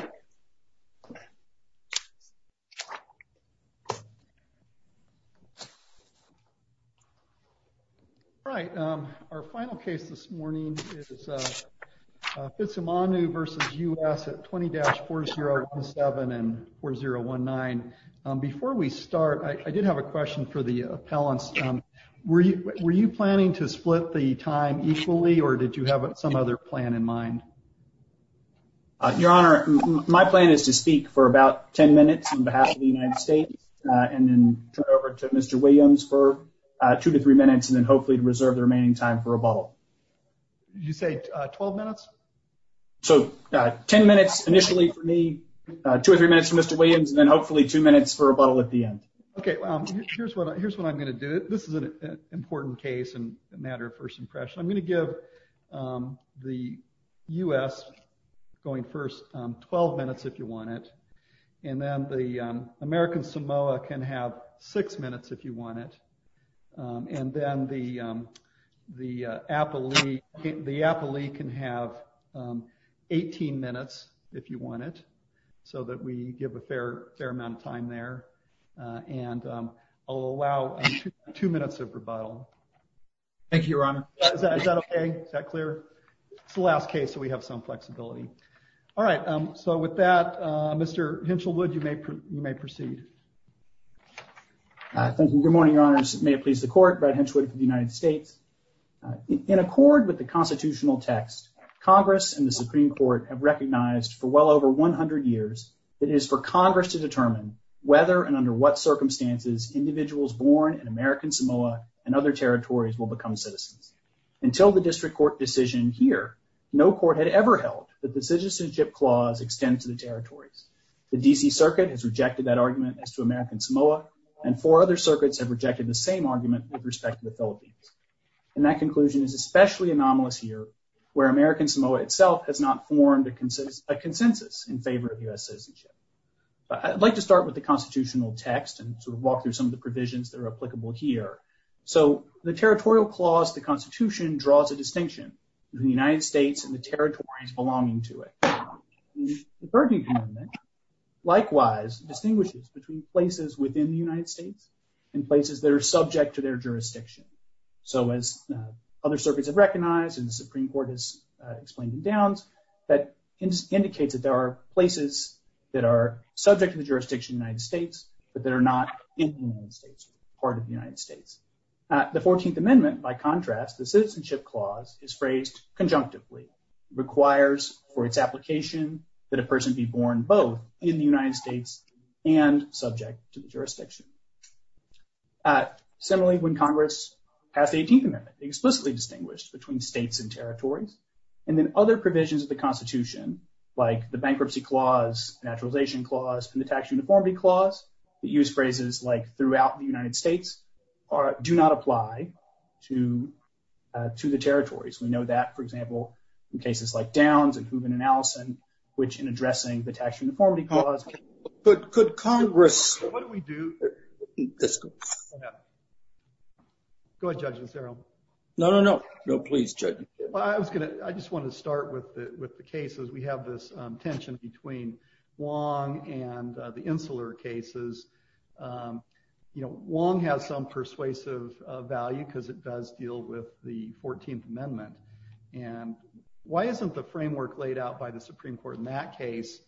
at 20-4017 and 20-4019. Before we start, I did have a question for the appellants. Were you planning to split the time equally or did you have some other plan in mind? Your Honor, my plan is to speak for about 10 minutes on behalf of the United States and then turn over to Mr. Williams for two to three minutes and then hopefully to reserve the remaining time for rebuttal. Did you say 12 minutes? So 10 minutes initially for me, two or three minutes for Mr. Williams and then hopefully two minutes for rebuttal at the end. Okay, here's what I'm going to do. This is an important case and a matter of first impression. I'm going to give the U.S. going first 12 minutes if you want it and then the American Samoa can have six minutes if you want it and then the Appalachian can have 18 minutes if you want it so that we give a fair amount of time there and I'll allow two minutes of rebuttal. Thank you, Your Honor. Is that okay? Is that clear? It's the last case so we have some flexibility. All right, so with that, Mr. Hinchelwood, you may proceed. Thank you. Good morning, Your Honors. May it please the Court. Brad Hinchelwood for the United States. In accord with the constitutional text, Congress and the Supreme Court have agreed for more than 100 years, it is for Congress to determine whether and under what circumstances individuals born in American Samoa and other territories will become citizens. Until the district court decision here, no court had ever held that the citizenship clause extends to the territories. The D.C. Circuit has rejected that argument as to American Samoa and four other circuits have rejected the same argument with respect to the Philippines. And that conclusion is especially anomalous here where American Samoa itself has not formed a consensus in favor of U.S. citizenship. But I'd like to start with the constitutional text and sort of walk through some of the provisions that are applicable here. So the territorial clause, the Constitution, draws a distinction between the United States and the territories belonging to it. The Burdine Amendment likewise distinguishes between places within the United States and places that are subject to their jurisdiction. So as other circuits have recognized and the Supreme Court has explained the downs, that indicates that there are places that are subject to the jurisdiction of the United States, but that are not in the United States or part of the United States. The 14th Amendment, by contrast, the citizenship clause is phrased conjunctively. It requires for its application that a person be born both in the United States and subject to the jurisdiction. Similarly, when Congress passed the 15th Amendment, they explicitly distinguished between states and territories. And then other provisions of the Constitution, like the Bankruptcy Clause, Naturalization Clause, and the Tax Uniformity Clause, that use phrases like throughout the United States, do not apply to the territories. We know that, for example, in cases like Downs and Hooven and Allison, which in addressing the Tax Uniformity Clause, there is a clause that states that a person is subject to the jurisdiction of the United States. Go ahead, Judge Nazaro. No, no, no. No, please, Judge. I just want to start with the cases. We have this tension between Wong and the Insular cases. You know, Wong has some persuasive value because it does deal with the 14th Amendment. And why isn't the framework laid out by the Supreme Court in that case,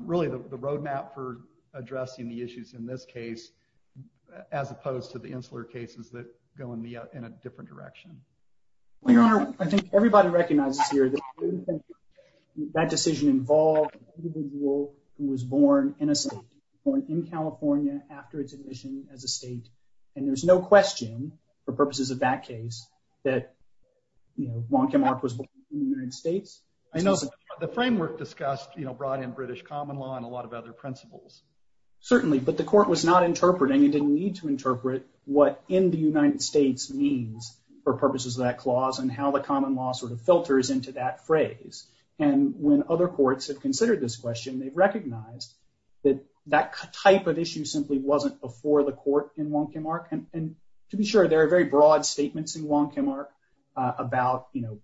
really the roadmap for addressing the issues in this case, as opposed to the Insular cases that go in a different direction? Well, Your Honor, I think everybody recognizes here that that decision involved an individual who was born in a state, born in California after its admission as a state. And there's no question, for purposes of that case, that, you know, Wong Kim Ark was born in the United States. I know the framework discussed, you know, brought in British common law and a lot of other principles. Certainly. But the court was not interpreting and didn't need to interpret what in the United States means for purposes of that clause and how the common law sort of filters into that phrase. And when other courts have considered this question, they've recognized that that type of issue simply wasn't before the court in Wong Kim Ark. And to be sure, there are very broad statements in Wong Kim Ark about, you know,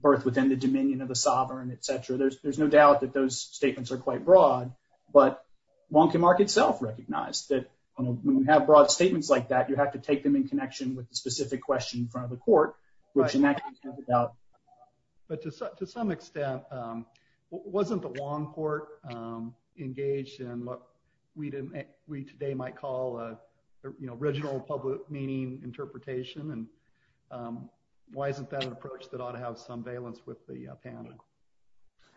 birth within the dominion of the sovereign, et cetera. There's no doubt that those statements are quite broad, but Wong Kim Ark itself recognized that when you have broad statements like that, you have to take them in connection with the specific question in front of the court, which in that case has a doubt. But to some extent, wasn't the Wong court engaged in what we today might call, you know, original public meaning interpretation? And why isn't that an approach that ought to have some valence with the panel?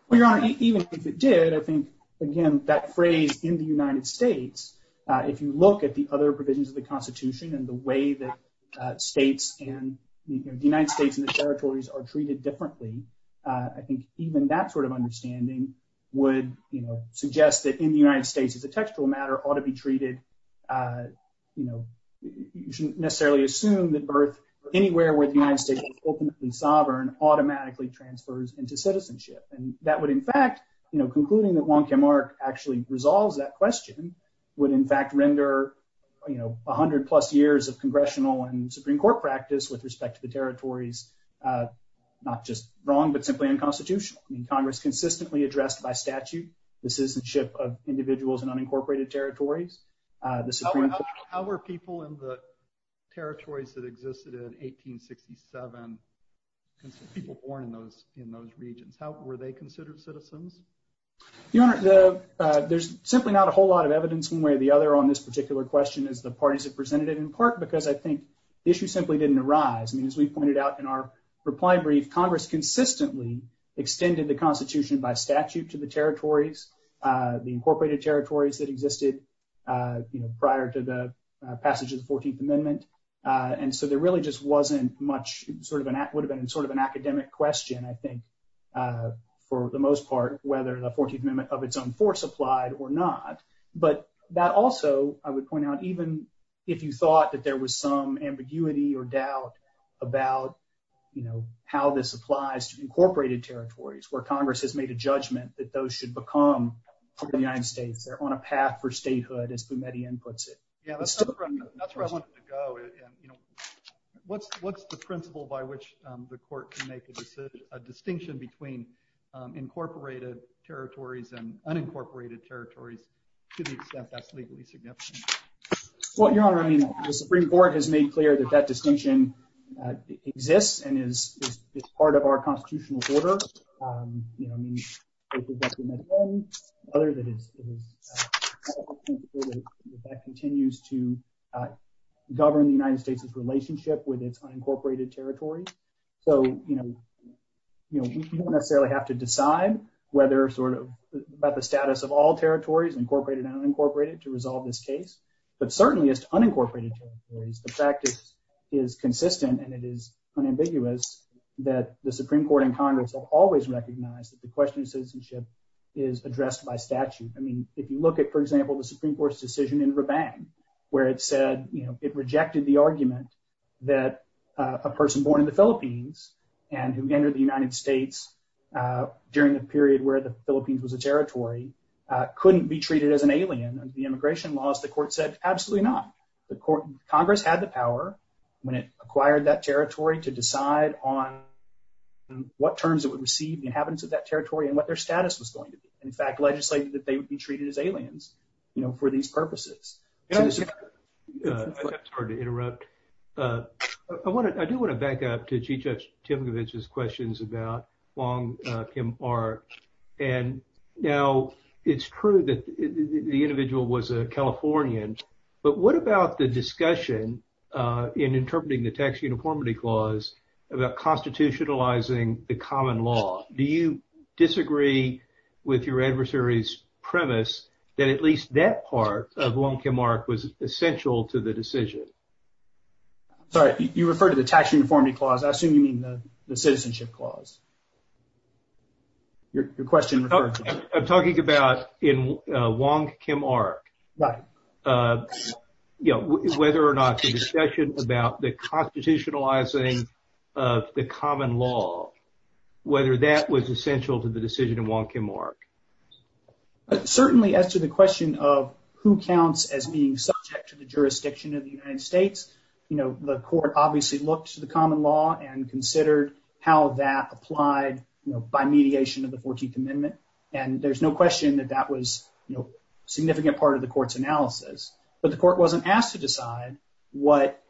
Well, Your Honor, even if it did, I think, again, that phrase in the United States, if you look at the other provisions of the Constitution and the way that states and the United States and the territories are treated differently, I think even that sort of understanding would, you know, suggest that in the United States as a textual matter ought to be treated, you know, you shouldn't necessarily assume that birth anywhere where the United States is ultimately sovereign automatically transfers into citizenship. And that would, in fact, you know, concluding that Wong Kim Ark actually resolves that question, would in fact render, you know, 100 plus years of congressional and Supreme Court practice with respect to the territories, not just wrong, but simply unconstitutional. I mean, Congress consistently addressed by statute, the citizenship of individuals in unincorporated territories. How were people in the territories that existed in 1867, people born in those, in those regions, how were they considered citizens? Your Honor, there's simply not a whole lot of evidence one way or the other on this particular question as the parties have presented it in part because I think the issue simply didn't arise. I mean, as we pointed out in our reply brief, Congress consistently extended the statute to the territories, the incorporated territories that existed, you know, prior to the passage of the 14th Amendment. And so there really just wasn't much sort of an act would have been sort of an academic question, I think, for the most part, whether the 14th Amendment of its own force applied or not. But that also, I would point out, even if you thought that there was some ambiguity or doubt about, you know, how this applies to incorporated territories where Congress has made a judgment that those should become part of the United States, they're on a path for statehood, as Boumediene puts it. Yeah, that's where I wanted to go. What's the principle by which the court can make a decision, a distinction between incorporated territories and unincorporated territories, to the extent that's legally significant? Well, Your Honor, I mean, the Supreme Court has made clear that that distinction exists and is part of our constitutional order, you know, I mean, other than is that continues to govern the United States's relationship with its unincorporated territory. So, you know, you don't necessarily have to decide whether sort of about the status of all territories incorporated and unincorporated to resolve this case. But certainly, as to unincorporated territories, the fact is consistent and it is unambiguous that the Supreme Court and Congress have always recognized that the question of citizenship is addressed by statute. I mean, if you look at, for example, the Supreme Court's decision in Rabang, where it said, you know, it rejected the argument that a person born in the Philippines and who entered the United States during the period where the Philippines was a territory couldn't be treated as an alien under the immigration laws, the court said, absolutely not. Congress had the power when it acquired that territory to decide on what terms it would receive the inhabitants of that territory and what their status was going to be. In fact, legislated that they would be treated as aliens, you know, for these purposes. I'm sorry to interrupt. I do want to back up to Wong Kim Ark. And now it's true that the individual was a Californian, but what about the discussion in interpreting the Tax Uniformity Clause about constitutionalizing the common law? Do you disagree with your adversary's premise that at least that part of Wong Kim Ark was essential to the decision? Sorry, you referred to the Tax Uniformity Clause. I assume you mean the your question. I'm talking about in Wong Kim Ark. Right. You know, whether or not the discussion about the constitutionalizing of the common law, whether that was essential to the decision in Wong Kim Ark. Certainly, as to the question of who counts as being subject to the jurisdiction of the United States, you know, the court obviously looks to the common law and considered how that applied, you know, by mediation of the 14th Amendment. And there's no question that that was, you know, a significant part of the court's analysis. But the court wasn't asked to decide what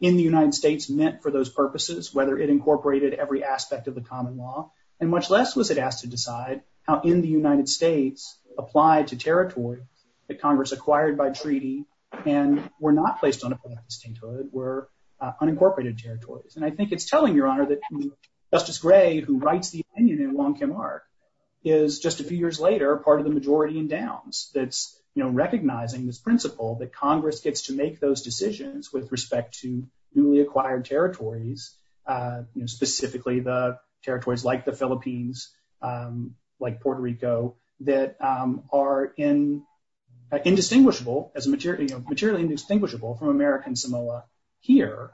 in the United States meant for those purposes, whether it incorporated every aspect of the common law. And much less was it asked to decide how in the United States applied to territory that Congress acquired by treaty and were not placed on a plenary statehood, were who writes the opinion in Wong Kim Ark is just a few years later, part of the majority in downs. That's, you know, recognizing this principle that Congress gets to make those decisions with respect to newly acquired territories, specifically the territories like the Philippines, like Puerto Rico, that are indistinguishable as a material, you know, materially indistinguishable from American here,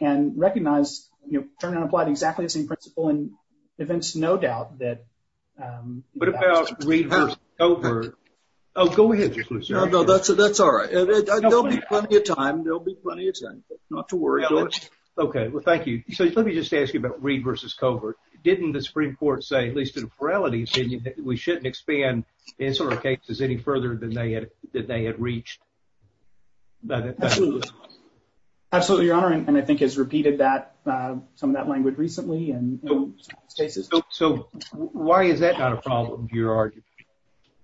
and recognize, you know, turn on applied exactly the same principle and events, no doubt that. What about reverse over? Oh, go ahead. No, that's, that's all right. There'll be plenty of time, there'll be plenty of time not to worry. Okay, well, thank you. So let me just ask you about read versus covert. Didn't the Supreme Court say at least in a morality, we shouldn't expand in sort of cases any further than they had, that they had reached? Absolutely, Your Honor. And I think has repeated that, some of that language recently. And so why is that not a problem to your argument?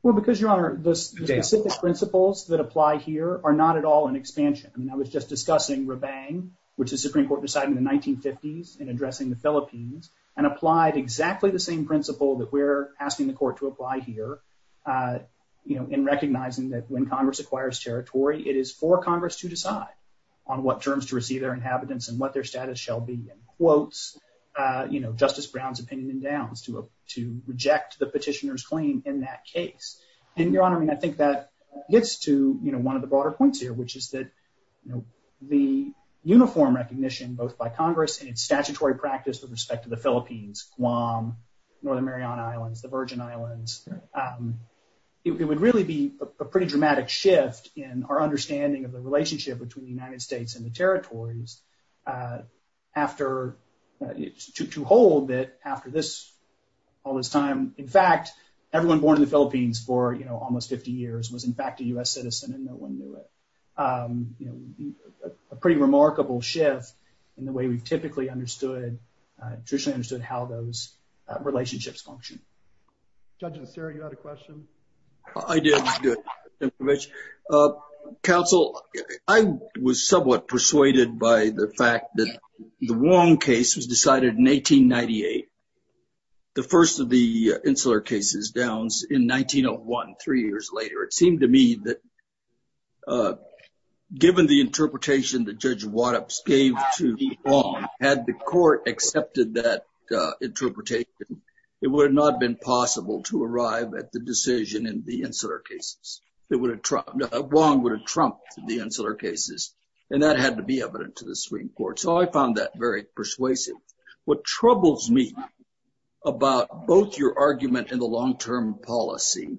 Well, because Your Honor, the specific principles that apply here are not at all an expansion. I mean, I was just discussing Rabang, which the Supreme Court decided in the 1950s in addressing the Philippines and applied exactly the same principle that we're asking the court to apply here, uh, you know, in recognizing that when Congress acquires territory, it is for Congress to decide on what terms to receive their inhabitants and what their status shall be in quotes, uh, you know, Justice Brown's opinion and downs to, to reject the petitioner's claim in that case. And Your Honor, I mean, I think that gets to, you know, one of the broader points here, which is that, you know, the uniform recognition, both by Congress and its statutory practice with respect to the Philippines, Guam, Northern Mariana Islands, the Virgin Islands, um, it would really be a pretty dramatic shift in our understanding of the relationship between the United States and the territories, uh, after, to hold that after this, all this time, in fact, everyone born in the Philippines for, you know, almost 50 years was in fact a U.S. citizen and no one knew it. Um, you know, a pretty remarkable shift in the way we've typically understood, uh, traditionally understood how those relationships function. Judge Nasseri, you had a question? I did. Uh, counsel, I was somewhat persuaded by the fact that the Wong case was decided in 1898, the first of the insular cases, downs in 1901, three years later. It seemed to me that, uh, given the interpretation that Judge Wattops gave to Wong, had the court accepted that, uh, interpretation, it would have not been possible to arrive at the decision in the insular cases. It would have trumped, uh, Wong would have trumped the insular cases and that had to be evident to the Supreme Court. So I found that very persuasive. What troubles me about both your argument and the long-term policy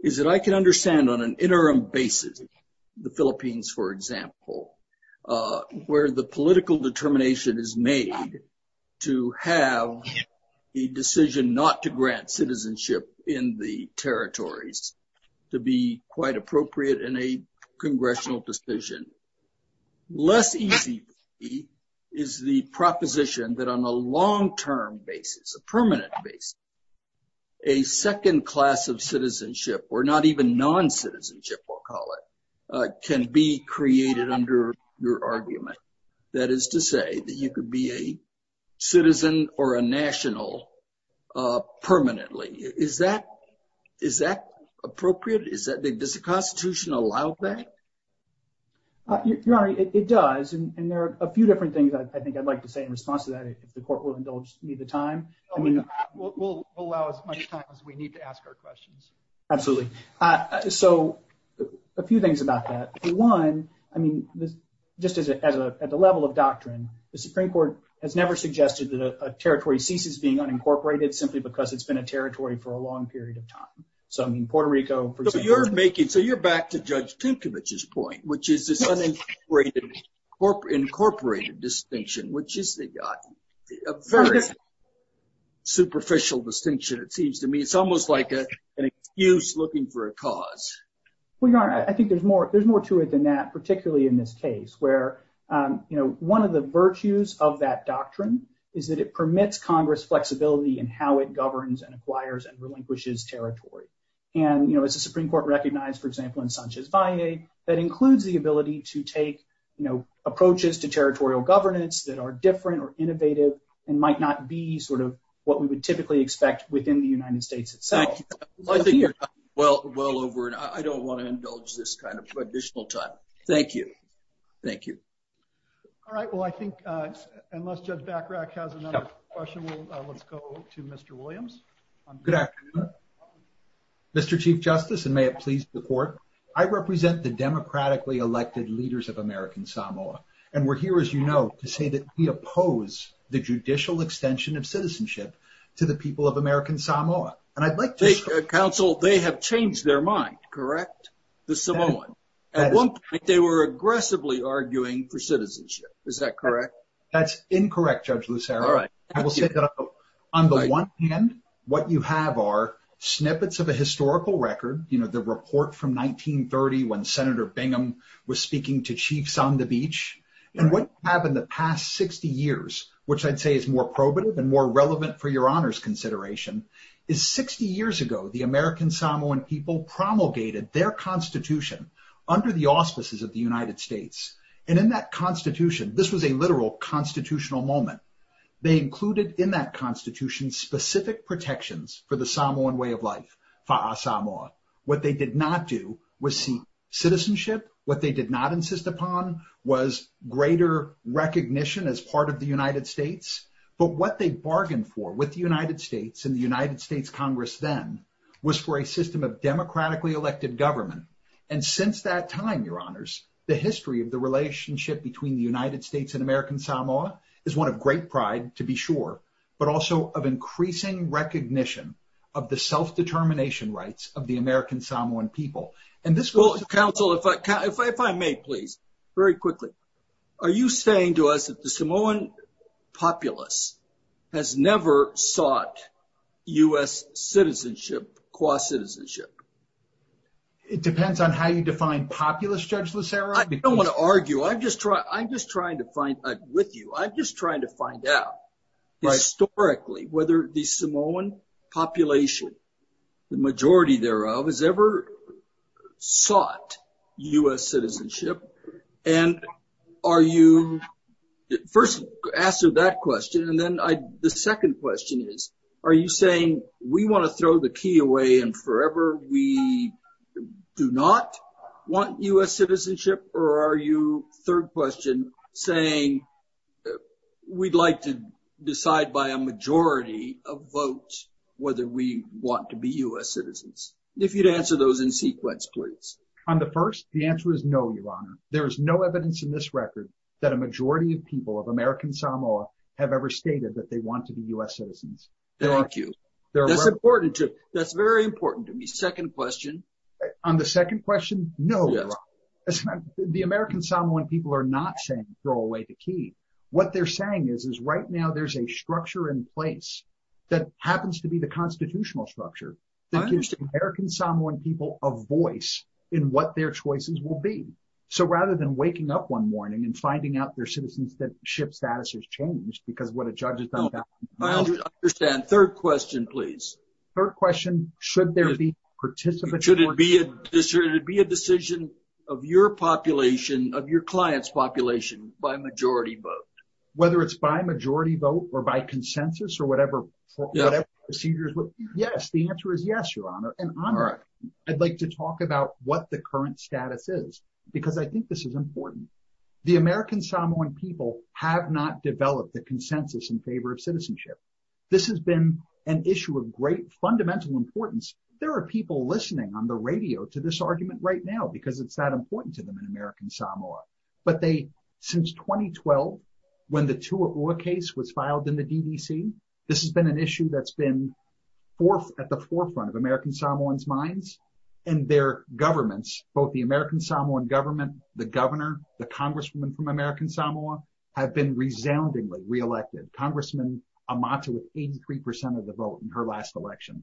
is that I can understand on an interim basis, the Philippines, for example, uh, where the political determination is made to have a decision not to grant citizenship in the territories to be quite appropriate in a congressional decision. Less easy is the proposition that on a long-term basis, a permanent basis, a second class of citizenship or not even non-citizenship, we'll call it, can be created under your argument. That is to say that you could be a citizen or a national, uh, permanently. Is that, is that appropriate? Is that, does the Constitution allow that? Your Honor, it does. And there are a few different things I think I'd like to say in response to that if the court will indulge me the time. I mean, we'll allow as much time as we need to ask our questions. Absolutely. Uh, so a few things about that. One, I mean, just as a, as a, at the level of doctrine, the Supreme Court has never suggested that a territory ceases being unincorporated simply because it's been a territory for a long period of time. So, I mean, Puerto Rico, for example. But you're making, so you're back to Judge Tukovich's point, which is this unincorporated, incorporated distinction, which is a very superficial distinction, it seems to me. It's almost like a, an excuse looking for a cause. Well, Your Honor, I think there's more, there's more to it than that, particularly in this case, where, you know, one of the virtues of that doctrine is that it permits Congress flexibility in how it governs and acquires and relinquishes territory. And, you know, as the Supreme Court recognized, for example, in Sanchez-Valle, that includes the ability to take, you know, approaches to territorial governance that are different or innovative and might not be sort of what we would typically expect within the United States itself. Well, I think you're well, well over, and I don't want to indulge this kind of additional time. Thank you. Thank you. All right. Well, I think, unless Judge Bachrach has another question, let's go to Mr. Williams. Good afternoon. Mr. Chief Justice, and may it please the Court, I represent the democratically elected leaders of American Samoa, and we're here, as you know, to say that we oppose the judicial extension of citizenship to the people of American Samoa. And I'd like to... Counsel, they have changed their mind, correct? The Samoan. At one point, they were aggressively arguing for citizenship. Is that correct? That's incorrect, Judge Lucero. All right. I will say that on the one hand, what you have are snippets of a historical record, you know, the report from 1930, when Senator Bingham was speaking to chiefs on the beach. And what you have in the past 60 years, which I'd say is more probative and more relevant for your consideration, is 60 years ago, the American Samoan people promulgated their constitution under the auspices of the United States. And in that constitution, this was a literal constitutional moment. They included in that constitution specific protections for the Samoan way of life, fa'a Samoa. What they did not do was seek citizenship. What they did not insist upon was greater recognition as part of the United States. But what they bargained for with the United States and the United States Congress then was for a system of democratically elected government. And since that time, your honors, the history of the relationship between the United States and American Samoa is one of great pride, to be sure, but also of increasing recognition of the self-determination rights of the American Samoan people. And this was... Counsel, if I may, please, very quickly. Are you saying to us that the Samoan populace has never sought U.S. citizenship, qua citizenship? It depends on how you define populace, Judge Lucero. I don't want to argue. I'm just trying to find... I'm with you. I'm just trying to find out historically whether the Samoan population, the majority thereof, has ever sought U.S. citizenship. And are you... First, answer that question. And then the second question is, are you saying we want to throw the key away and forever we do not want U.S. citizenship? Or are you, third question, saying we'd like to decide by a majority of votes whether we want to be U.S. citizens? If you'd answer those in sequence, please. On the first, the answer is no, Your Honor. There is no evidence in this record that a majority of people of American Samoa have ever stated that they want to be U.S. citizens. Thank you. That's very important to me. Second question. On the second question, no, Your Honor. The American Samoan people are not saying throw away the key. What they're saying is, is right now there's a structure in place that happens to be the constitutional structure that gives the American Samoan people a voice in what their choices will be. So rather than waking up one morning and finding out their citizenship status has changed because of what a judge has done... I understand. Third question, please. Third question, should there be participatory... Should it be a decision of your population, of your client's population, by majority vote? Whether it's by majority vote or by consensus or whatever procedures... Yes, the answer is yes, Your Honor. And I'd like to talk about what the current status is because I think this is important. The American Samoan people have not developed a consensus in favor of citizenship. This has been an issue of great fundamental importance. There are people listening on the radio to this argument right now because it's that important to them in American Samoa. But since 2012, when the Tuaua case was filed in the DDC, this has been an issue that's been at the forefront of American Samoans' minds and their governments, both the American Samoan government, the governor, the congresswoman from American Samoa, have been resoundingly re-elected. Congressman Amata with 83 percent of the vote in her last election.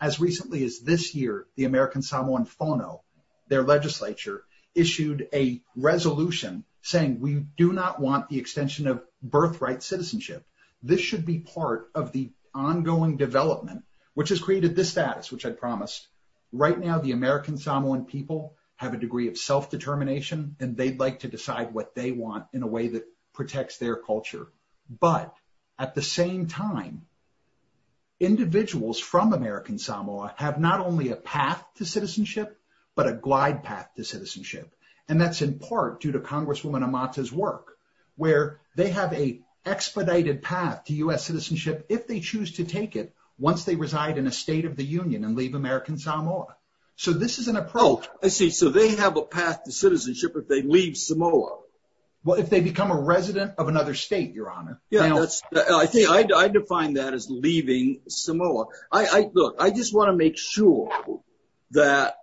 As recently as this year, the American Samoan Fono, their legislature, issued a resolution saying we do not want the extension of birthright citizenship. This should be part of the ongoing development, which has created this status, which I promised. Right now, the American Samoan people have a degree of self-determination and they'd like to decide what they want in a way that protects their culture. But at the same time, individuals from American Samoa have not only a path to citizenship, but a glide path to citizenship. And that's in part due to Congresswoman Amata's work, where they have an expedited path to citizenship if they choose to take it once they reside in a state of the union and leave American Samoa. So this is an approach. I see. So they have a path to citizenship if they leave Samoa. Well, if they become a resident of another state, Your Honor. Yeah, I define that as leaving Samoa. Look, I just want to make sure that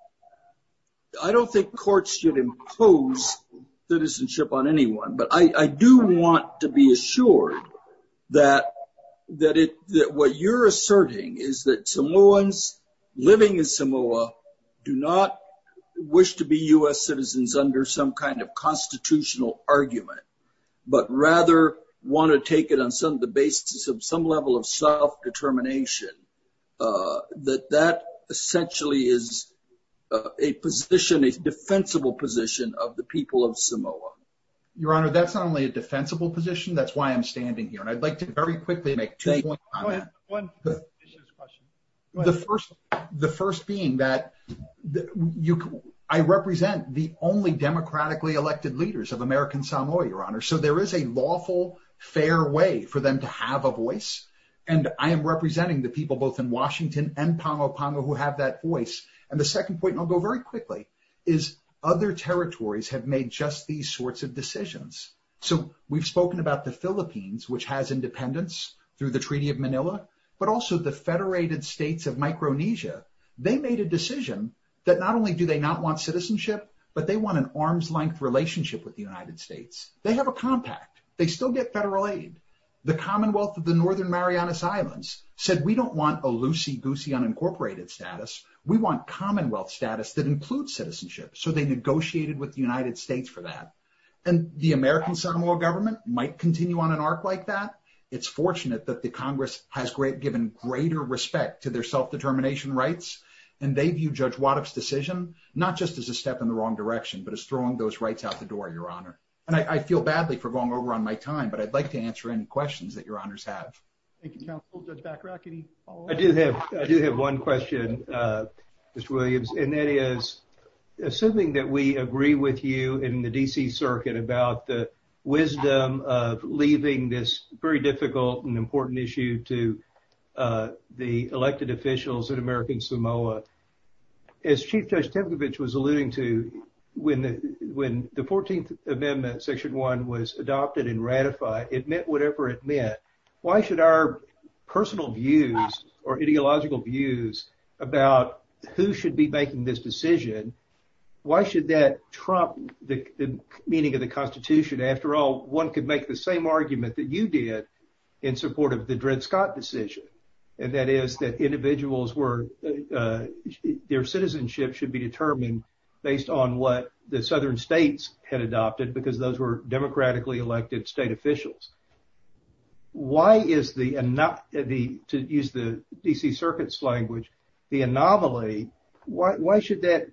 I don't think courts should impose citizenship on anyone. But I do want to be assured that what you're asserting is that Samoans living in Samoa do not wish to be U.S. citizens under some kind of constitutional argument, but rather want to take it on the basis of some level of self-determination, that that essentially is a position, a defensible position of the people of Samoa. Your Honor, that's not only a defensible position. That's why I'm standing here. And I'd like to very quickly make two points on that. The first being that I represent the only democratically elected leaders of American Samoa, Your Honor. So there is a lawful, fair way for them to have a voice. And I am representing the people both in Washington and Palo Palo who have that voice. And the second point, and I'll go very quickly, is other territories have made just these sorts of decisions. So we've spoken about the Philippines, which has independence through the Treaty of Manila, but also the federated states of Micronesia. They made a decision that not only do they not want citizenship, but they want an arm's length relationship with the United States. They have a compact. They still get federal aid. The Commonwealth of the Northern Marianas Islands said, we don't want a loosey-goosey unincorporated status. We want Commonwealth status that includes citizenship. So they negotiated with the United States for that. And the American Samoa government might continue on an arc like that. It's fortunate that the Congress has given greater respect to their self-determination rights. And they view Judge Waddup's decision, not just as a step in the wrong direction, but as throwing those rights out the door, Your Honor. And I feel badly for going over on my time, but I'd like to answer any questions that Your Honors have. Thank you, counsel. Judge Bacharach, any follow-up? I do have one question, Mr. Williams. And that is, assuming that we agree with you in the D.C. Circuit about the wisdom of leaving this very difficult and important issue to the elected officials in American Samoa. As Chief Judge Tepcovich was alluding to, when the 14th Amendment, Section 1, was adopted and ratified, it meant whatever it meant. Why should our personal views or ideological views about who should be making this decision, why should that trump the meaning of the Constitution? After all, one could make the same argument that you did in support of the Dred Scott decision. And that is that individuals were, their citizenship should be determined based on what the southern states had adopted, because those were democratically elected state officials. Why is the, to use the D.C. Circuit's language, the anomaly, why should that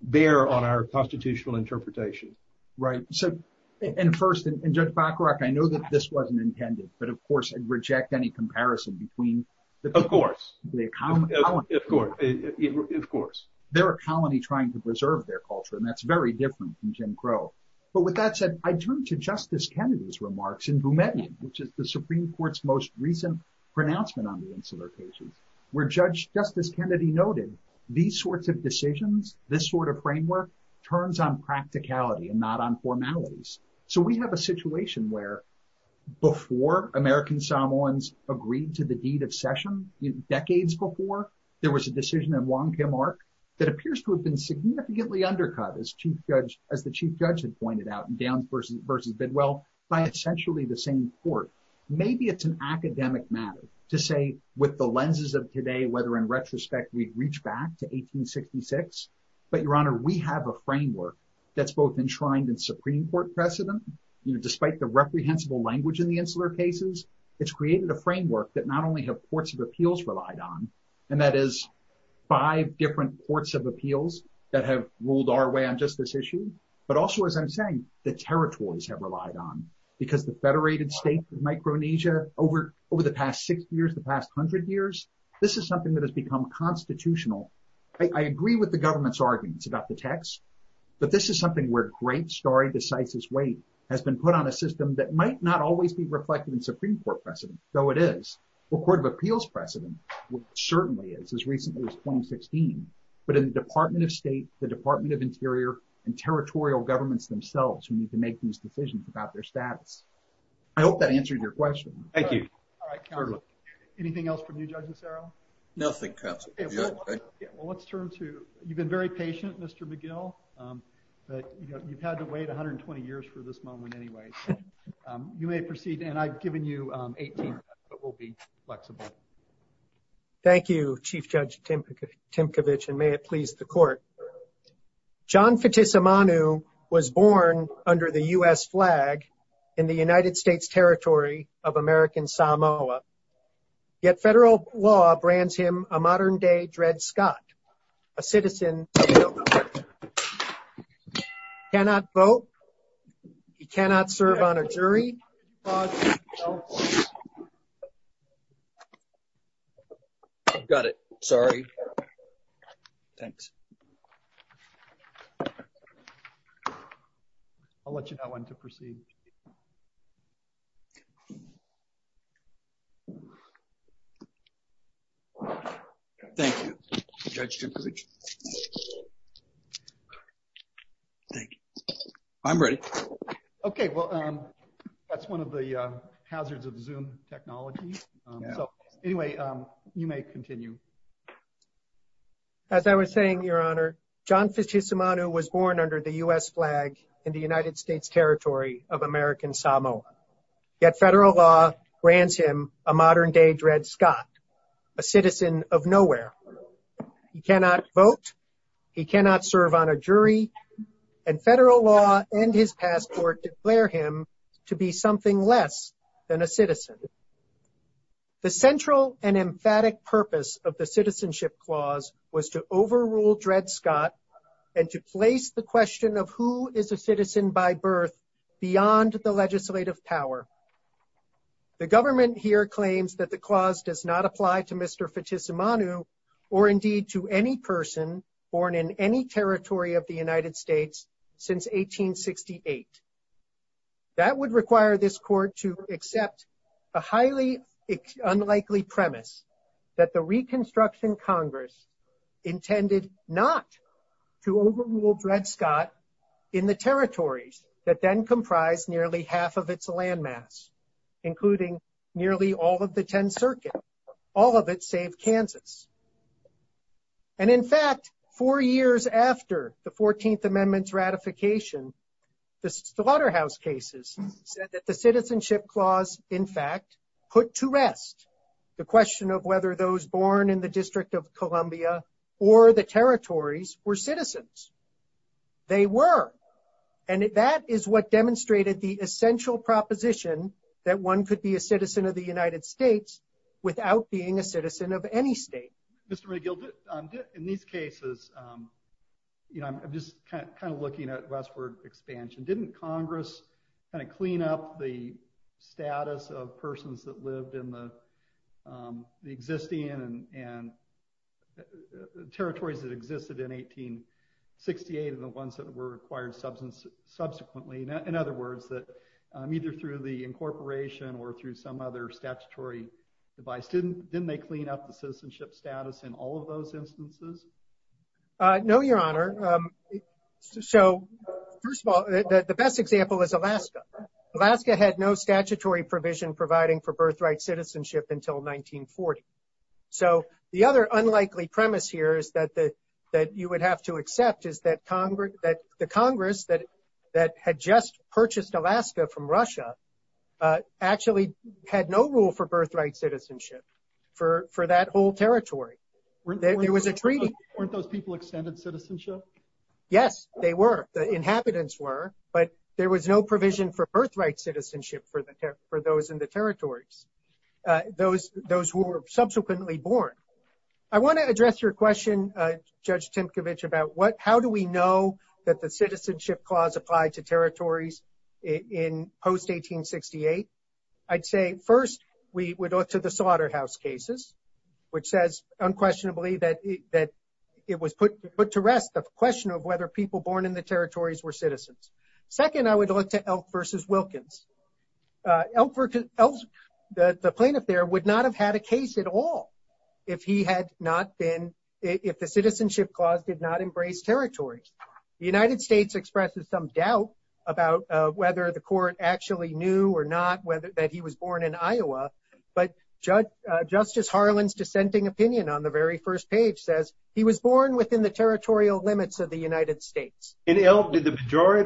bear on our constitutional interpretation? Right. So, and first, and Judge Bacharach, I know that this wasn't intended, but of course, I'd reject any comparison between the people. Of course. Of course. They're a colony trying to preserve their culture, and that's very different from Jim Crow. But with that said, I turn to Justice Kennedy's remarks in Boumediene, which is the Supreme Court's most recent pronouncement on the Insular Cases, where Justice Kennedy noted, these sorts of decisions, this sort of framework, turns on practicality and not on formalities. So we have a situation where, before American Samoans agreed to the deed of session, decades before, there was a decision in Wong Kim Ark that appears to have been significantly undercut, as the Chief Judge had pointed out, in Downs versus Bidwell, by essentially the same court. Maybe it's an academic matter to say, with the lenses of today, whether in retrospect, we'd reach back to 1866. But Your Honor, we have a framework that's both enshrined in Supreme Court precedent. Despite the reprehensible language in the Insular Cases, it's created a framework that not only have courts of appeals relied on, and that is five different courts of appeals that have ruled our way on just this issue, but also, as I'm saying, the territories have relied on. Because the federated state of Micronesia, over the past six years, the past hundred years, this is something that has become constitutional. I agree with the government's arguments about the has been put on a system that might not always be reflected in Supreme Court precedent, though it is, or court of appeals precedent, which certainly is, as recently as 2016. But in the Department of State, the Department of Interior, and territorial governments themselves who need to make these decisions about their status. I hope that answered your question. Thank you. All right, counsel. Anything else from you, Judge Lucero? Nothing, counsel. Well, let's turn to, you've been very patient, Mr. McGill, but you've had to wait 120 years for this moment, anyway. You may proceed, and I've given you 18 minutes, but we'll be flexible. Thank you, Chief Judge Timkovich, and may it please the court. John Fitisimanu was born under the U.S. flag in the United States territory of American Samoa, yet federal law brands him a modern-day Dred Scott, a citizen, cannot vote. He cannot serve on a jury. Got it. Sorry. Thanks. I'll let you know when to proceed. Thank you, Judge Timkovich. Thank you. I'm ready. Okay, well, that's one of the hazards of Zoom technology. So, anyway, you may continue. As I was saying, Your Honor, John Fitisimanu was born under the U.S. flag in the United States territory of American Samoa, yet federal law brands him a modern-day Dred Scott, a citizen of nowhere. He cannot vote. He cannot serve on a jury, and federal law and his past court declare him to be something less than a citizen. The central and emphatic purpose of the Citizenship Clause was to overrule Dred Scott and to place the question of who is a beyond the legislative power. The government here claims that the clause does not apply to Mr. Fitisimanu or, indeed, to any person born in any territory of the United States since 1868. That would require this court to accept a highly unlikely premise that the Reconstruction Congress intended not to overrule Dred Scott in the territories that then comprised nearly half of its landmass, including nearly all of the 10th Circuit, all of it save Kansas. And, in fact, four years after the 14th Amendment's ratification, the Slaughterhouse Cases said that the Citizenship Clause, in fact, put to rest the question of whether those born in the District of Columbia or the territories were citizens. They were. And that is what demonstrated the essential proposition that one could be a citizen of the United States without being a citizen of any state. Mr. McGill, in these cases, you know, I'm just kind of looking at westward expansion. Didn't Congress kind of clean up the and territories that existed in 1868 and the ones that were acquired subsequently? In other words, that either through the incorporation or through some other statutory device, didn't they clean up the citizenship status in all of those instances? No, Your Honor. So, first of all, the best example is Alaska. Alaska had no statutory provision providing for birthright citizenship until 1940. So, the other unlikely premise here is that you would have to accept is that the Congress that had just purchased Alaska from Russia actually had no rule for birthright citizenship for that whole territory. There was a treaty. Weren't those people extended citizenship? Yes, they were. The inhabitants were. But there was no provision for birthright citizenship for those who were subsequently born. I want to address your question, Judge Tinkovich, about how do we know that the citizenship clause applied to territories in post-1868? I'd say, first, we would look to the Slaughterhouse Cases, which says unquestionably that it was put to rest the question of whether people born in the territories were citizens. Second, I would look to Elk v. Wilkins. The plaintiff there would not have had a case at all if the citizenship clause did not embrace territories. The United States expresses some doubt about whether the court actually knew or not that he was born in Iowa. But Justice Harlan's dissenting opinion on the very first page says he was born within the territory. Did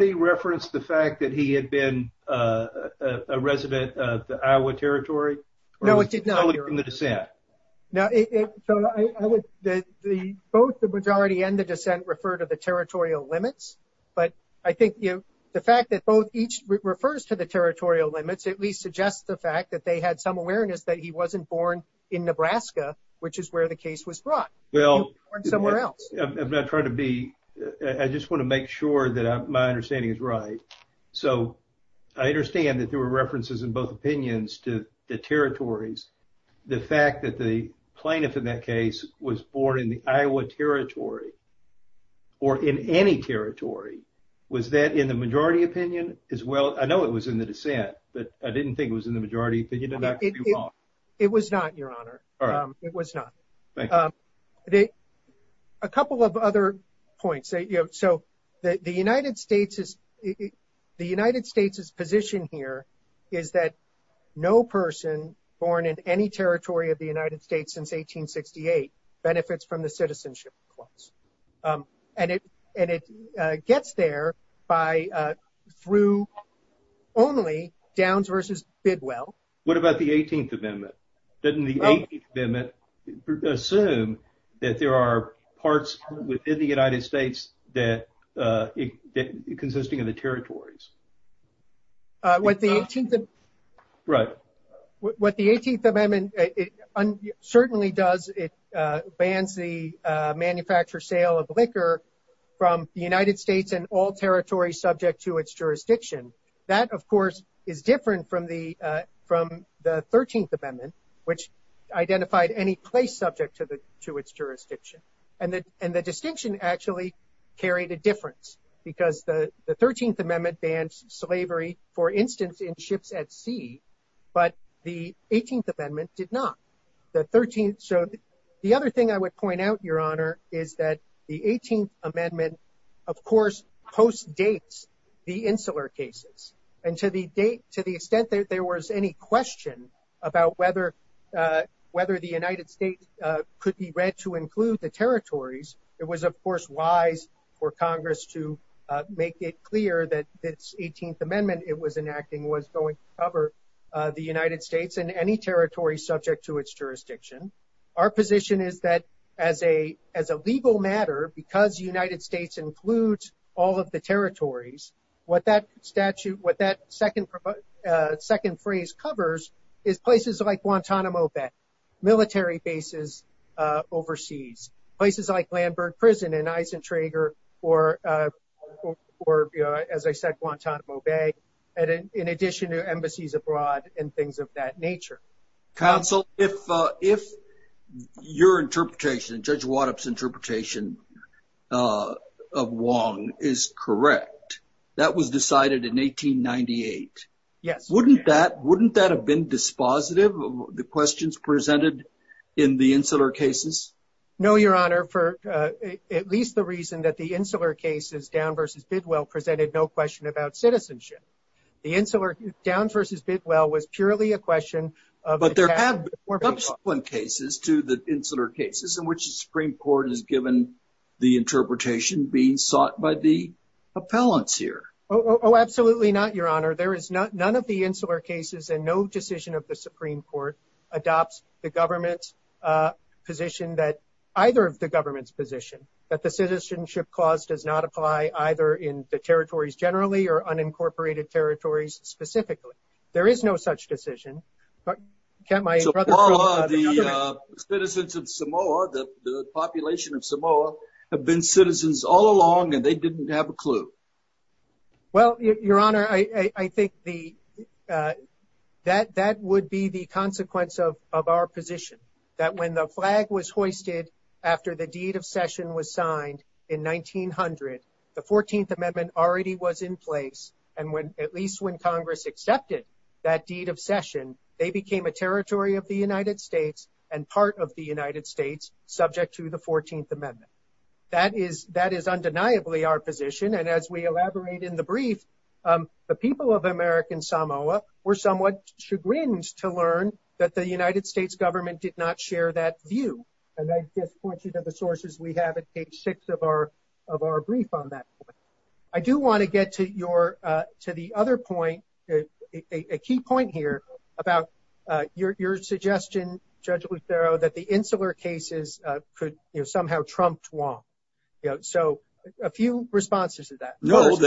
he reference the fact that he had been a resident of the Iowa Territory? No, he did not, Your Honor. Or was he telling from the dissent? Both the majority and the dissent refer to the territorial limits. But I think the fact that both each refers to the territorial limits at least suggests the fact that they had some awareness that he wasn't born in Nebraska, which is where the case was brought. He was born somewhere else. I just want to make sure that my understanding is right. So I understand that there were references in both opinions to the territories. The fact that the plaintiff in that case was born in the Iowa Territory or in any territory, was that in the majority opinion as well? I know it was in the dissent, but I didn't think it was in the majority opinion. It was not, Your Honor. It was not. Thank you. A couple of other points. So the United States's position here is that no person born in any territory of the United States since 1868 benefits from the citizenship clause. And it gets there by through only Downs versus Bidwell. What about the 18th Amendment? Doesn't the 18th Amendment assume that there are parts within the United States that consisting of the territories? What the 18th Amendment certainly does, it bans the manufacture sale of liquor from the United States and all territories subject to its jurisdiction. That, of course, is different from the 13th Amendment, which identified any place subject to its jurisdiction. And the distinction actually carried a difference because the 13th Amendment bans slavery, for instance, in ships at sea, but the 18th Amendment did not. So the other thing I point out, Your Honor, is that the 18th Amendment, of course, postdates the Insular Cases. And to the extent that there was any question about whether the United States could be read to include the territories, it was, of course, wise for Congress to make it clear that this 18th Amendment it was enacting was going to cover the United States and any territory subject to its jurisdiction. Our position is that as a legal matter, because the United States includes all of the territories, what that statute, what that second phrase covers is places like Guantanamo Bay, military bases overseas, places like Lambert Prison in Eisentrager or, as I said, Guantanamo Bay, in addition to embassies abroad and things of that nature. Counsel, if your interpretation, Judge Waddup's interpretation of Wong is correct, that was decided in 1898. Yes. Wouldn't that have been dispositive of the questions presented in the Insular Cases? No, Your Honor, for at least the reason that the Insular Cases, Downs v. Bidwell, presented no question about citizenship. The Insular, Downs v. Bidwell, was purely a question of... But there have been subsequent cases to the Insular Cases in which the Supreme Court has given the interpretation being sought by the appellants here. Oh, absolutely not, Your Honor. There is not, none of the Insular Cases and no decision of the Supreme Court adopts the government's position that, either of the territories generally or unincorporated territories specifically. There is no such decision, but can't my brother... So far, the citizens of Samoa, the population of Samoa, have been citizens all along and they didn't have a clue. Well, Your Honor, I think that would be the consequence of our position, that when the flag was hoisted after the Deed of Session was signed in 1900, the 14th Amendment already was in place. And when, at least when Congress accepted that Deed of Session, they became a territory of the United States and part of the United States, subject to the 14th Amendment. That is undeniably our position. And as we elaborate in the brief, the people of American Samoa were somewhat chagrined to learn that the United States government did not share that view. And I just point you to the sources we have at page six of our brief on that point. I do want to get to your, to the other point, a key point here about your suggestion, Judge Lucero, that the Insular Cases could somehow trump Tuong. So a few responses to that. No,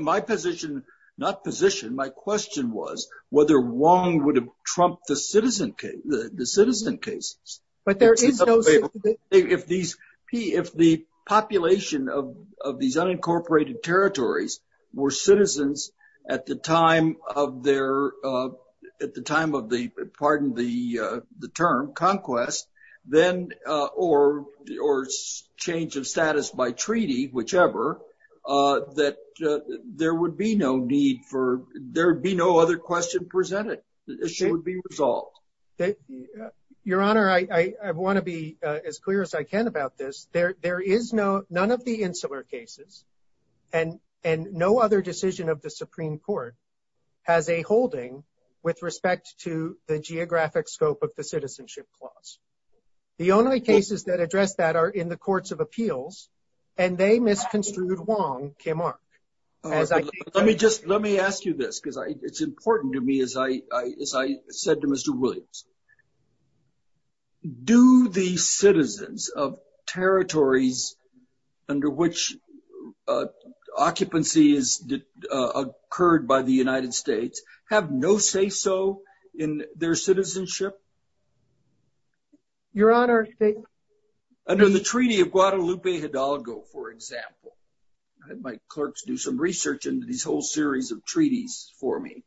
my position, not position, my question was whether Tuong would have trumped the citizen cases. If the population of these unincorporated territories were citizens at the time of their, at the time of the, pardon the term, conquest, then, or change of status by treaty, whichever, that there would be no need for, there would be no other question presented. The issue would be resolved. Your Honor, I want to be as clear as I can about this. There is no, none of the Insular Cases and no other decision of the Supreme Court has a holding with respect to the geographic scope of the citizenship clause. The only cases that address that are in the Courts of Appeals and they misconstrued Wong K. Mark. Let me just, let me ask you this, because it's important to me, as I said to Mr. Williams. Do the citizens of territories under which occupancy is occurred by the United States have no say-so in their citizenship? Your Honor. Under the Treaty of Guadalupe Hidalgo, for example. I had my clerks do some research into these whole series of treaties for me.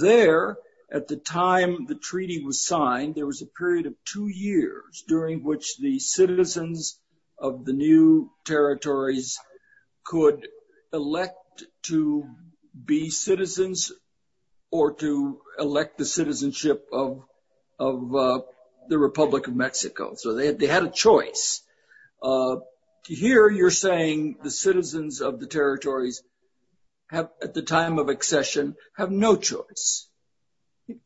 There, at the time the treaty was signed, there was a period of two years during which the citizens of the new territories could elect to be citizens or to elect the citizenship of the Republic of Mexico. So, they had a choice. Here, you're saying the citizens of the territories have, at the time of accession, have no choice.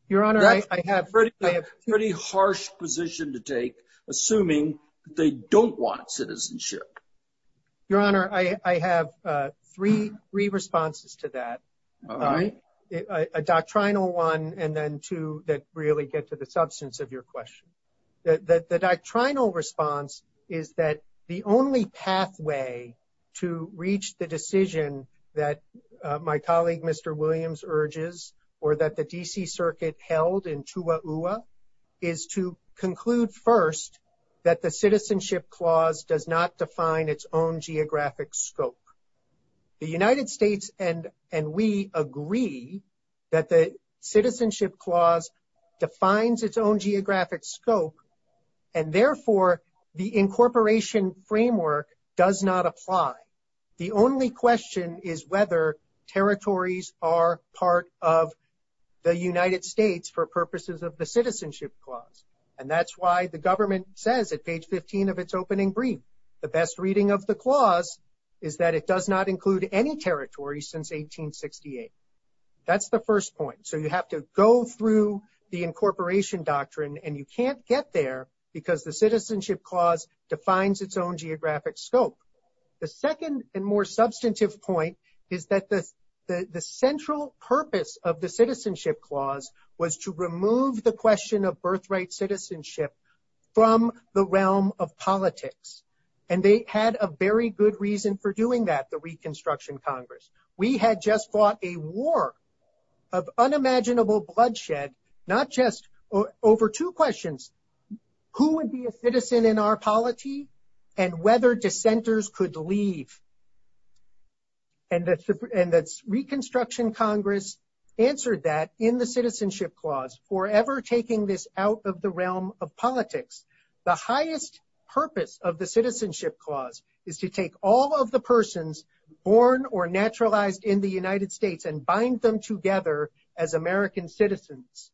Your Honor, I have. That's a pretty harsh position to take, assuming they don't want citizenship. Your Honor, I have three responses to that. All right. A doctrinal one and then two that really get to the substance of your question. The doctrinal response is that the only pathway to reach the decision that my colleague, Mr. Williams, urges or that the D.C. Circuit held in Chihuahua is to conclude first that the own geographic scope. The United States and we agree that the Citizenship Clause defines its own geographic scope, and therefore, the incorporation framework does not apply. The only question is whether territories are part of the United States for purposes of the Citizenship Clause. That's why the government says at page 15 of its opening brief, the best reading of the clause is that it does not include any territory since 1868. That's the first point. So, you have to go through the incorporation doctrine, and you can't get there because the Citizenship Clause defines its own geographic scope. The second and more substantive point is that the central purpose of the Citizenship Clause was to remove the question of birthright citizenship from the realm of politics, and they had a very good reason for doing that, the Reconstruction Congress. We had just fought a war of unimaginable bloodshed, not just over two questions, who would be a citizen in our polity and whether dissenters could leave. And the Reconstruction Congress answered that in the Citizenship Clause, forever taking this out of the realm of politics. The highest purpose of the Citizenship Clause is to take all of the persons born or naturalized in the United States and bind them together as American citizens.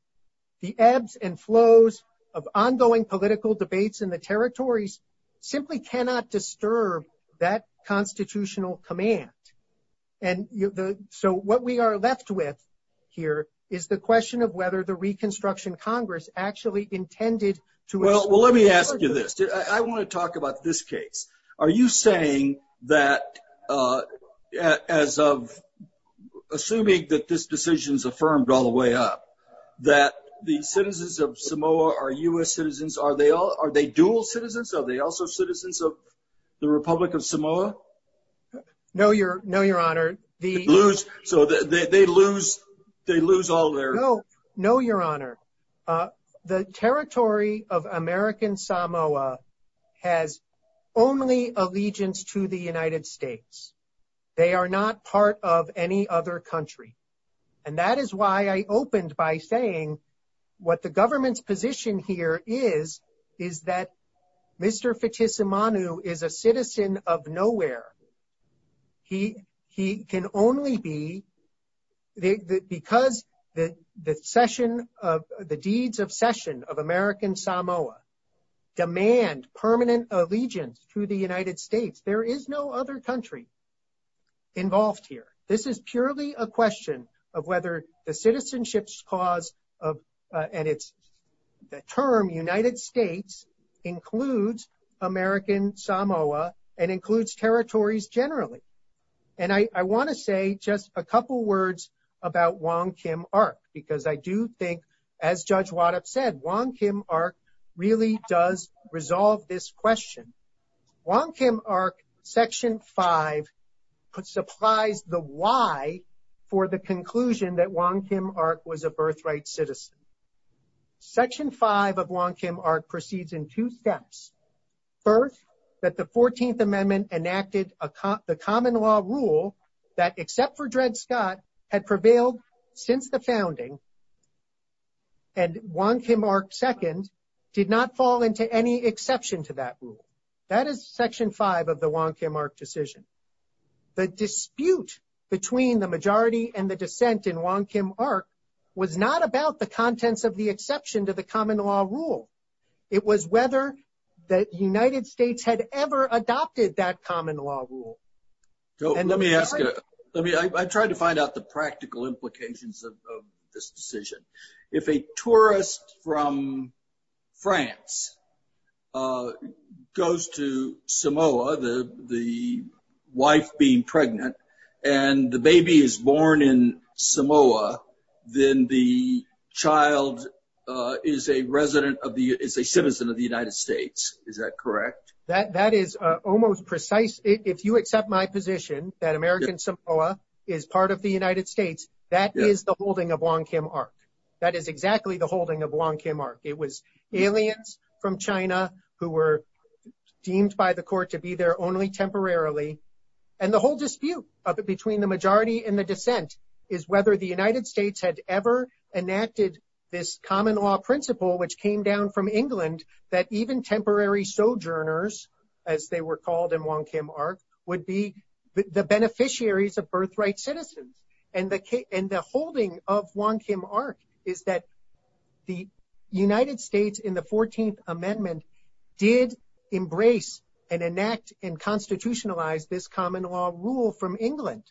The ebbs and flows of ongoing political debates in the territories simply cannot disturb that constitutional command. So, what we are left with here is the question of whether the Reconstruction Congress actually intended to... Well, let me ask you this. I want to talk about this case. Are you saying that, as of assuming that this decision is affirmed all the way up, that the citizens of Samoa are U.S. citizens? Are they dual citizens? Are they also citizens of Republic of Samoa? No, Your Honor. So, they lose all their... No, Your Honor. The territory of American Samoa has only allegiance to the United States. They are not part of any other country. And that is why I opened by saying what the government's position here is, is that Mr. Fitissimanu is a citizen of nowhere. He can only be... Because the deeds of session of American Samoa demand permanent allegiance to the United States, there is no other country involved here. This is purely a question of whether the Citizenship Clause and its term, United States, includes American Samoa and includes territories generally. And I want to say just a couple words about Wong Kim Ark, because I do think, as Judge Waddup said, Wong Kim Ark really does resolve this question. Wong Kim Ark, Section 5, supplies the for the conclusion that Wong Kim Ark was a birthright citizen. Section 5 of Wong Kim Ark proceeds in two steps. First, that the 14th Amendment enacted the common law rule that, except for Dred Scott, had prevailed since the founding, and Wong Kim Ark II did not fall into any exception to that rule. That is Section 5 of the Wong Kim Ark decision. The dispute between the majority and the dissent in Wong Kim Ark was not about the contents of the exception to the common law rule. It was whether the United States had ever adopted that common law rule. Let me ask you, I tried to find out the practical the wife being pregnant and the baby is born in Samoa, then the child is a resident of the, is a citizen of the United States. Is that correct? That is almost precise. If you accept my position that American Samoa is part of the United States, that is the holding of Wong Kim Ark. That is exactly the holding of Wong Kim Ark. It was aliens from China who were deemed by the temporarily. And the whole dispute between the majority and the dissent is whether the United States had ever enacted this common law principle, which came down from England, that even temporary sojourners, as they were called in Wong Kim Ark, would be the beneficiaries of birthright citizens. And the holding of Wong Kim Ark is that the United States, in the 14th Amendment, did embrace and enact and constitutionalize this common law rule from England.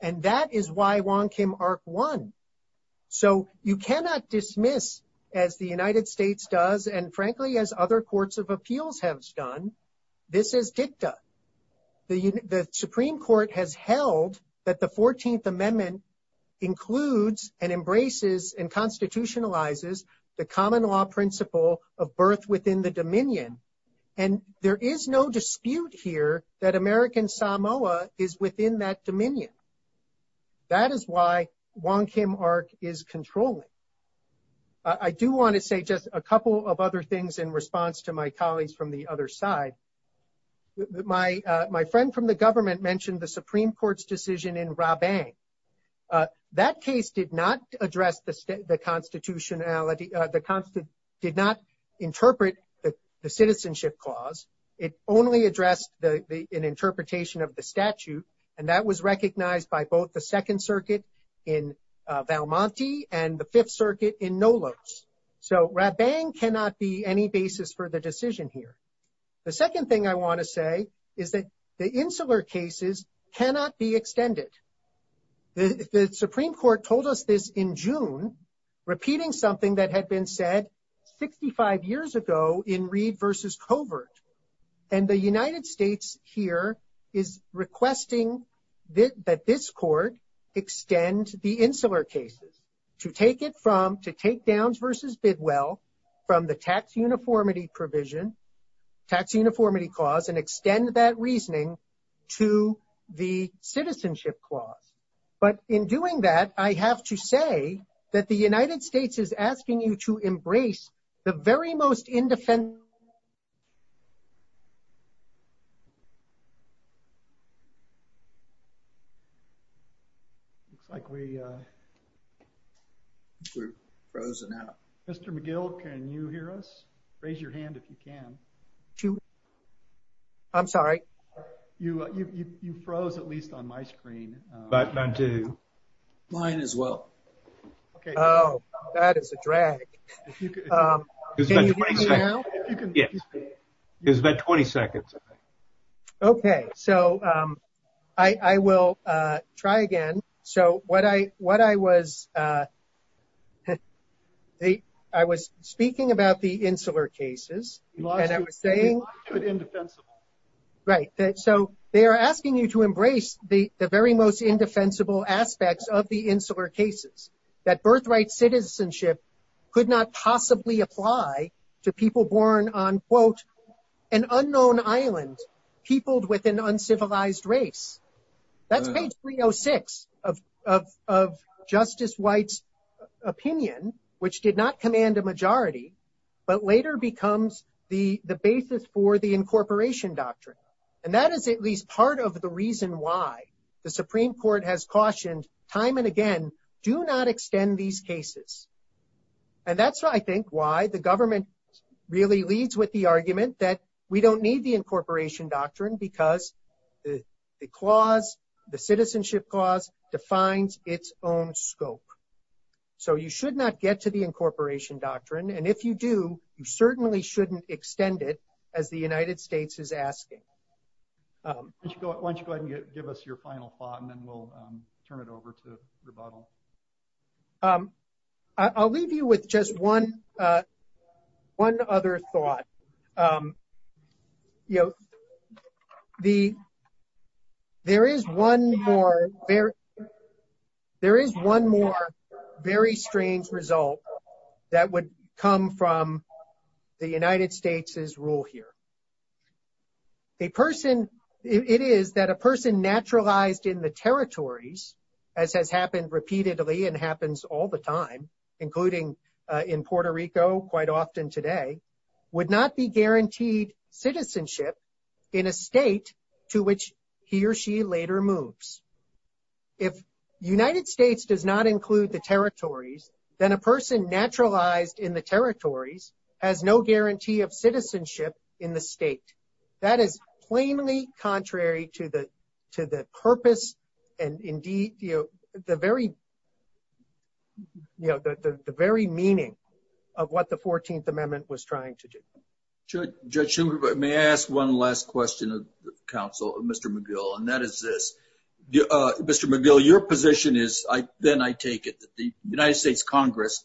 And that is why Wong Kim Ark won. So you cannot dismiss, as the United States does, and frankly, as other courts of appeals have done, this is dicta. The Supreme Court has held that the 14th Amendment includes and embraces and constitutionalizes the common law principle of birth within the dominion. And there is no dispute here that American Samoa is within that dominion. That is why Wong Kim Ark is controlling. I do want to say just a couple of other things in response to my colleagues from the other side. My friend from the government mentioned the Supreme Court's in Rabang. That case did not address the constitutionality, did not interpret the citizenship clause. It only addressed an interpretation of the statute. And that was recognized by both the Second Circuit in Valmonte and the Fifth Circuit in Nolos. So Rabang cannot be any basis for the decision here. The second thing I want to say is that the insular cases cannot be extended. The Supreme Court told us this in June, repeating something that had been said 65 years ago in Reed v. Covert. And the United States here is requesting that this court extend the insular cases to take it from, to take Downs v. Bidwell from the tax uniformity provision, tax uniformity clause, and extend that reasoning to the citizenship clause. But in doing that, I have to say that the United States is asking you to embrace the very most independent. It looks like we are frozen out. Mr. McGill, can you hear us? Raise your hand if you can. I'm sorry. You froze at least on my screen. Mine as well. Oh, that is a drag. Okay. So I will try again. So what I was, I was speaking about the insular cases, and I was saying, right. So they are asking you to embrace the very most indefensible aspects of the insular cases, that birthright citizenship could not possibly apply to people born on, quote, an unknown island peopled with an uncivilized race. That's page 306 of Justice White's opinion, which did not command a majority, but later becomes the basis for the incorporation doctrine. And that is at least part of the reason why the Supreme Court has cautioned time and again, do not extend these cases. And that's, I think, why the government really leads with the argument that we don't need the incorporation doctrine, because the clause, the citizenship clause defines its own scope. So you should not get to the incorporation doctrine. And if you do, you certainly shouldn't extend it as the United States is asking. Why don't you go ahead and give us your final thought, and then we'll turn it over to Rebuttal. I'll leave you with just one other thought. There is one more very strange result that would come from the United States' rule here. A person, it is that a person naturalized in the territories, as has happened repeatedly and happens all the time, including in Puerto Rico quite often today, would not be guaranteed citizenship in a state to which he or she later moves. If United States does not include the territories, then a person naturalized in the territories has no guarantee of citizenship in the state. That is plainly contrary to the purpose and indeed the very meaning of what the 14th Amendment was trying to do. Judge Schumer, may I ask one last question of counsel, Mr. McGill, and that is this. Mr. McGill, your position is, then I take it, the United States Congress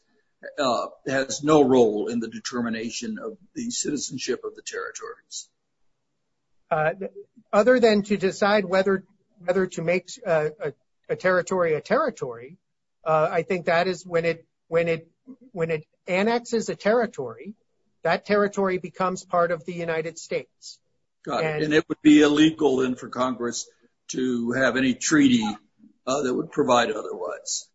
has no role in the determination of the citizenship of the territories. Other than to decide whether to make a territory a territory, I think that is when it annexes a territory, that territory becomes part of the United States. And it would be illegal, then, for Congress to have any treaty that would provide otherwise.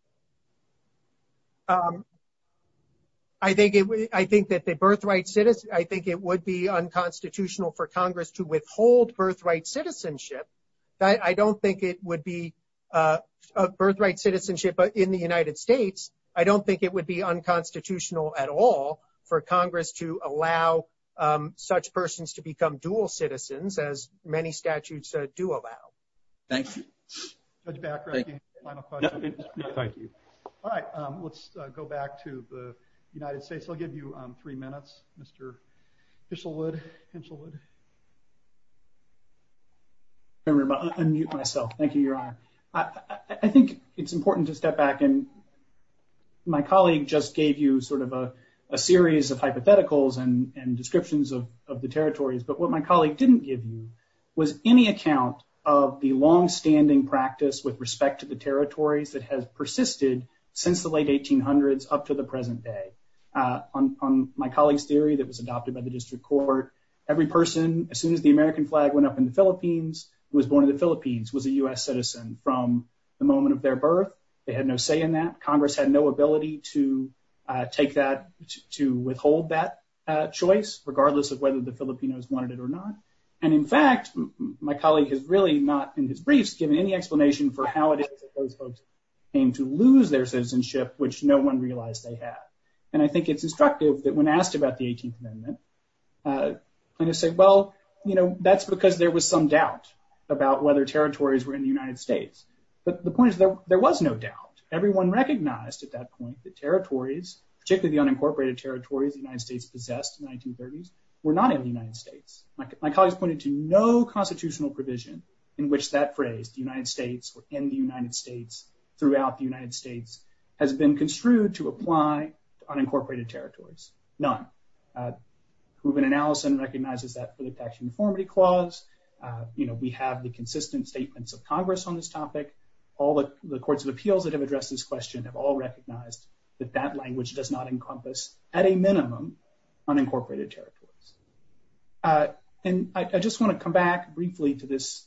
I think that the birthright citizen, I think it would be unconstitutional for Congress to withhold birthright citizenship. I don't think it would be a birthright citizenship in the United States. I don't think it would be unconstitutional at all for Congress to allow such persons to become dual citizens, as many statutes do allow. Thank you. Judge Back, do you have a final question? Thank you. All right. Let's go back to the United States. I'll give you three minutes, Mr. Henshelwood. I'm going to unmute myself. Thank you, Your Honor. I think it's important to step back. And my colleague just gave you sort of a series of hypotheticals and descriptions of the territories. But what my colleague didn't give you was any account of the longstanding practice with respect to the territories that has persisted since the late 1800s up to the present day. On my colleague's theory that was adopted by the district court, every person, as soon as the American flag went up in the Philippines, who was born in the Philippines was a U.S. citizen from the moment of their birth. They had no say in that. Congress had no ability to take that, to withhold that choice, regardless of whether the Filipinos wanted it or not. And in fact, my colleague has really not in his briefs given any explanation for how it is that those folks came to lose their citizenship, which no one realized they had. And I think it's instructive that when asked about the 18th Amendment, plaintiffs say, well, you know, that's because there was some doubt about whether territories were in the United States. But the point is that there was no doubt. Everyone recognized at that point that territories, particularly the unincorporated territories the United States possessed in the 1930s, were not in the United States. My colleague has pointed to no constitutional provision in which that phrase, the United States, or in the United States, throughout the United States, has been construed to apply to unincorporated territories. None. Hooven and Allison recognizes that for the Faction Informity Clause. You know, we have the consistent statements of Congress on this topic. All the courts of appeals that have addressed this question have all recognized that that language does not encompass, at a minimum, unincorporated territories. And I just want to come back briefly to this.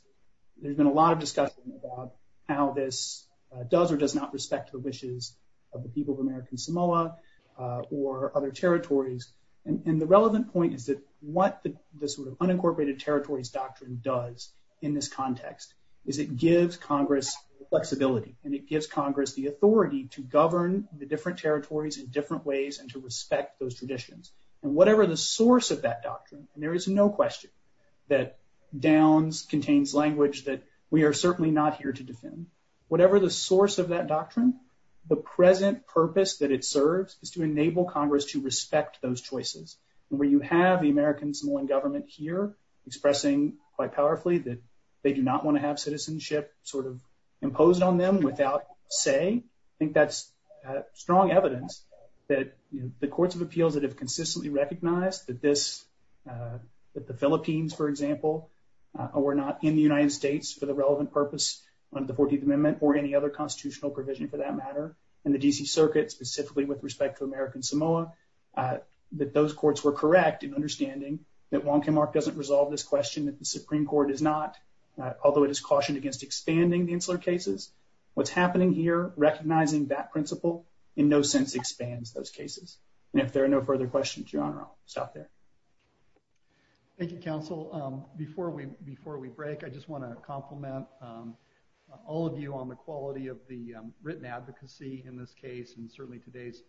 There's been a lot of discussion about how this does or does not respect the wishes of the people of American Samoa or other territories. And the relevant point is that what the sort of unincorporated territories doctrine does in this context is it gives Congress flexibility and it gives Congress the authority to govern the different territories in different ways and to respect those traditions. And whatever the source of that doctrine, and there is no question that Downs contains language that we are certainly not here to defend, whatever the source of that doctrine, the present purpose that it serves is to enable Congress to respect those choices. And where you have the American Samoan government here expressing quite powerfully that they do not want to have citizenship sort of imposed on them without say, I think that's strong evidence that the courts of appeals that have consistently recognized that this, that the Philippines, for example, were not in the United States for the relevant purpose of the 14th Amendment or any other constitutional provision for that matter, and the D.C. Circuit specifically with respect to American Samoa, that those courts were correct in understanding that Wong Kim Ark doesn't resolve this question, that the Supreme Court does not, although it is cautioned against expanding the insular cases. What's happening here, recognizing that principle in no sense expands those cases. And if there are no further questions, Your Honor, I'll stop there. Thank you, counsel. Before we, before we break, I just want to compliment all of you on the quality of the written advocacy in this case, and certainly today's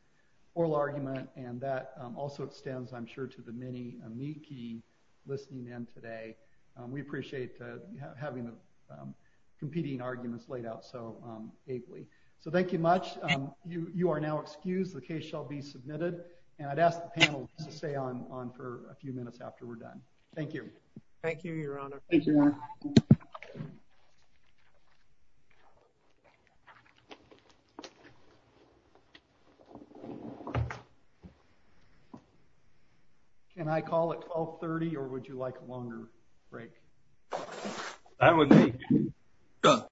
oral argument, and that also extends, I'm sure, to the many amici listening in today. We appreciate having the competing arguments laid out so ably. So thank you much. You, you are now excused. The case shall be submitted, and I'd ask the panel to stay on for a few minutes after we're done. Thank you. Thank you, Your Honor. Thank you, Your Honor. Can I call at 1230, or would you like a longer break? That would be good.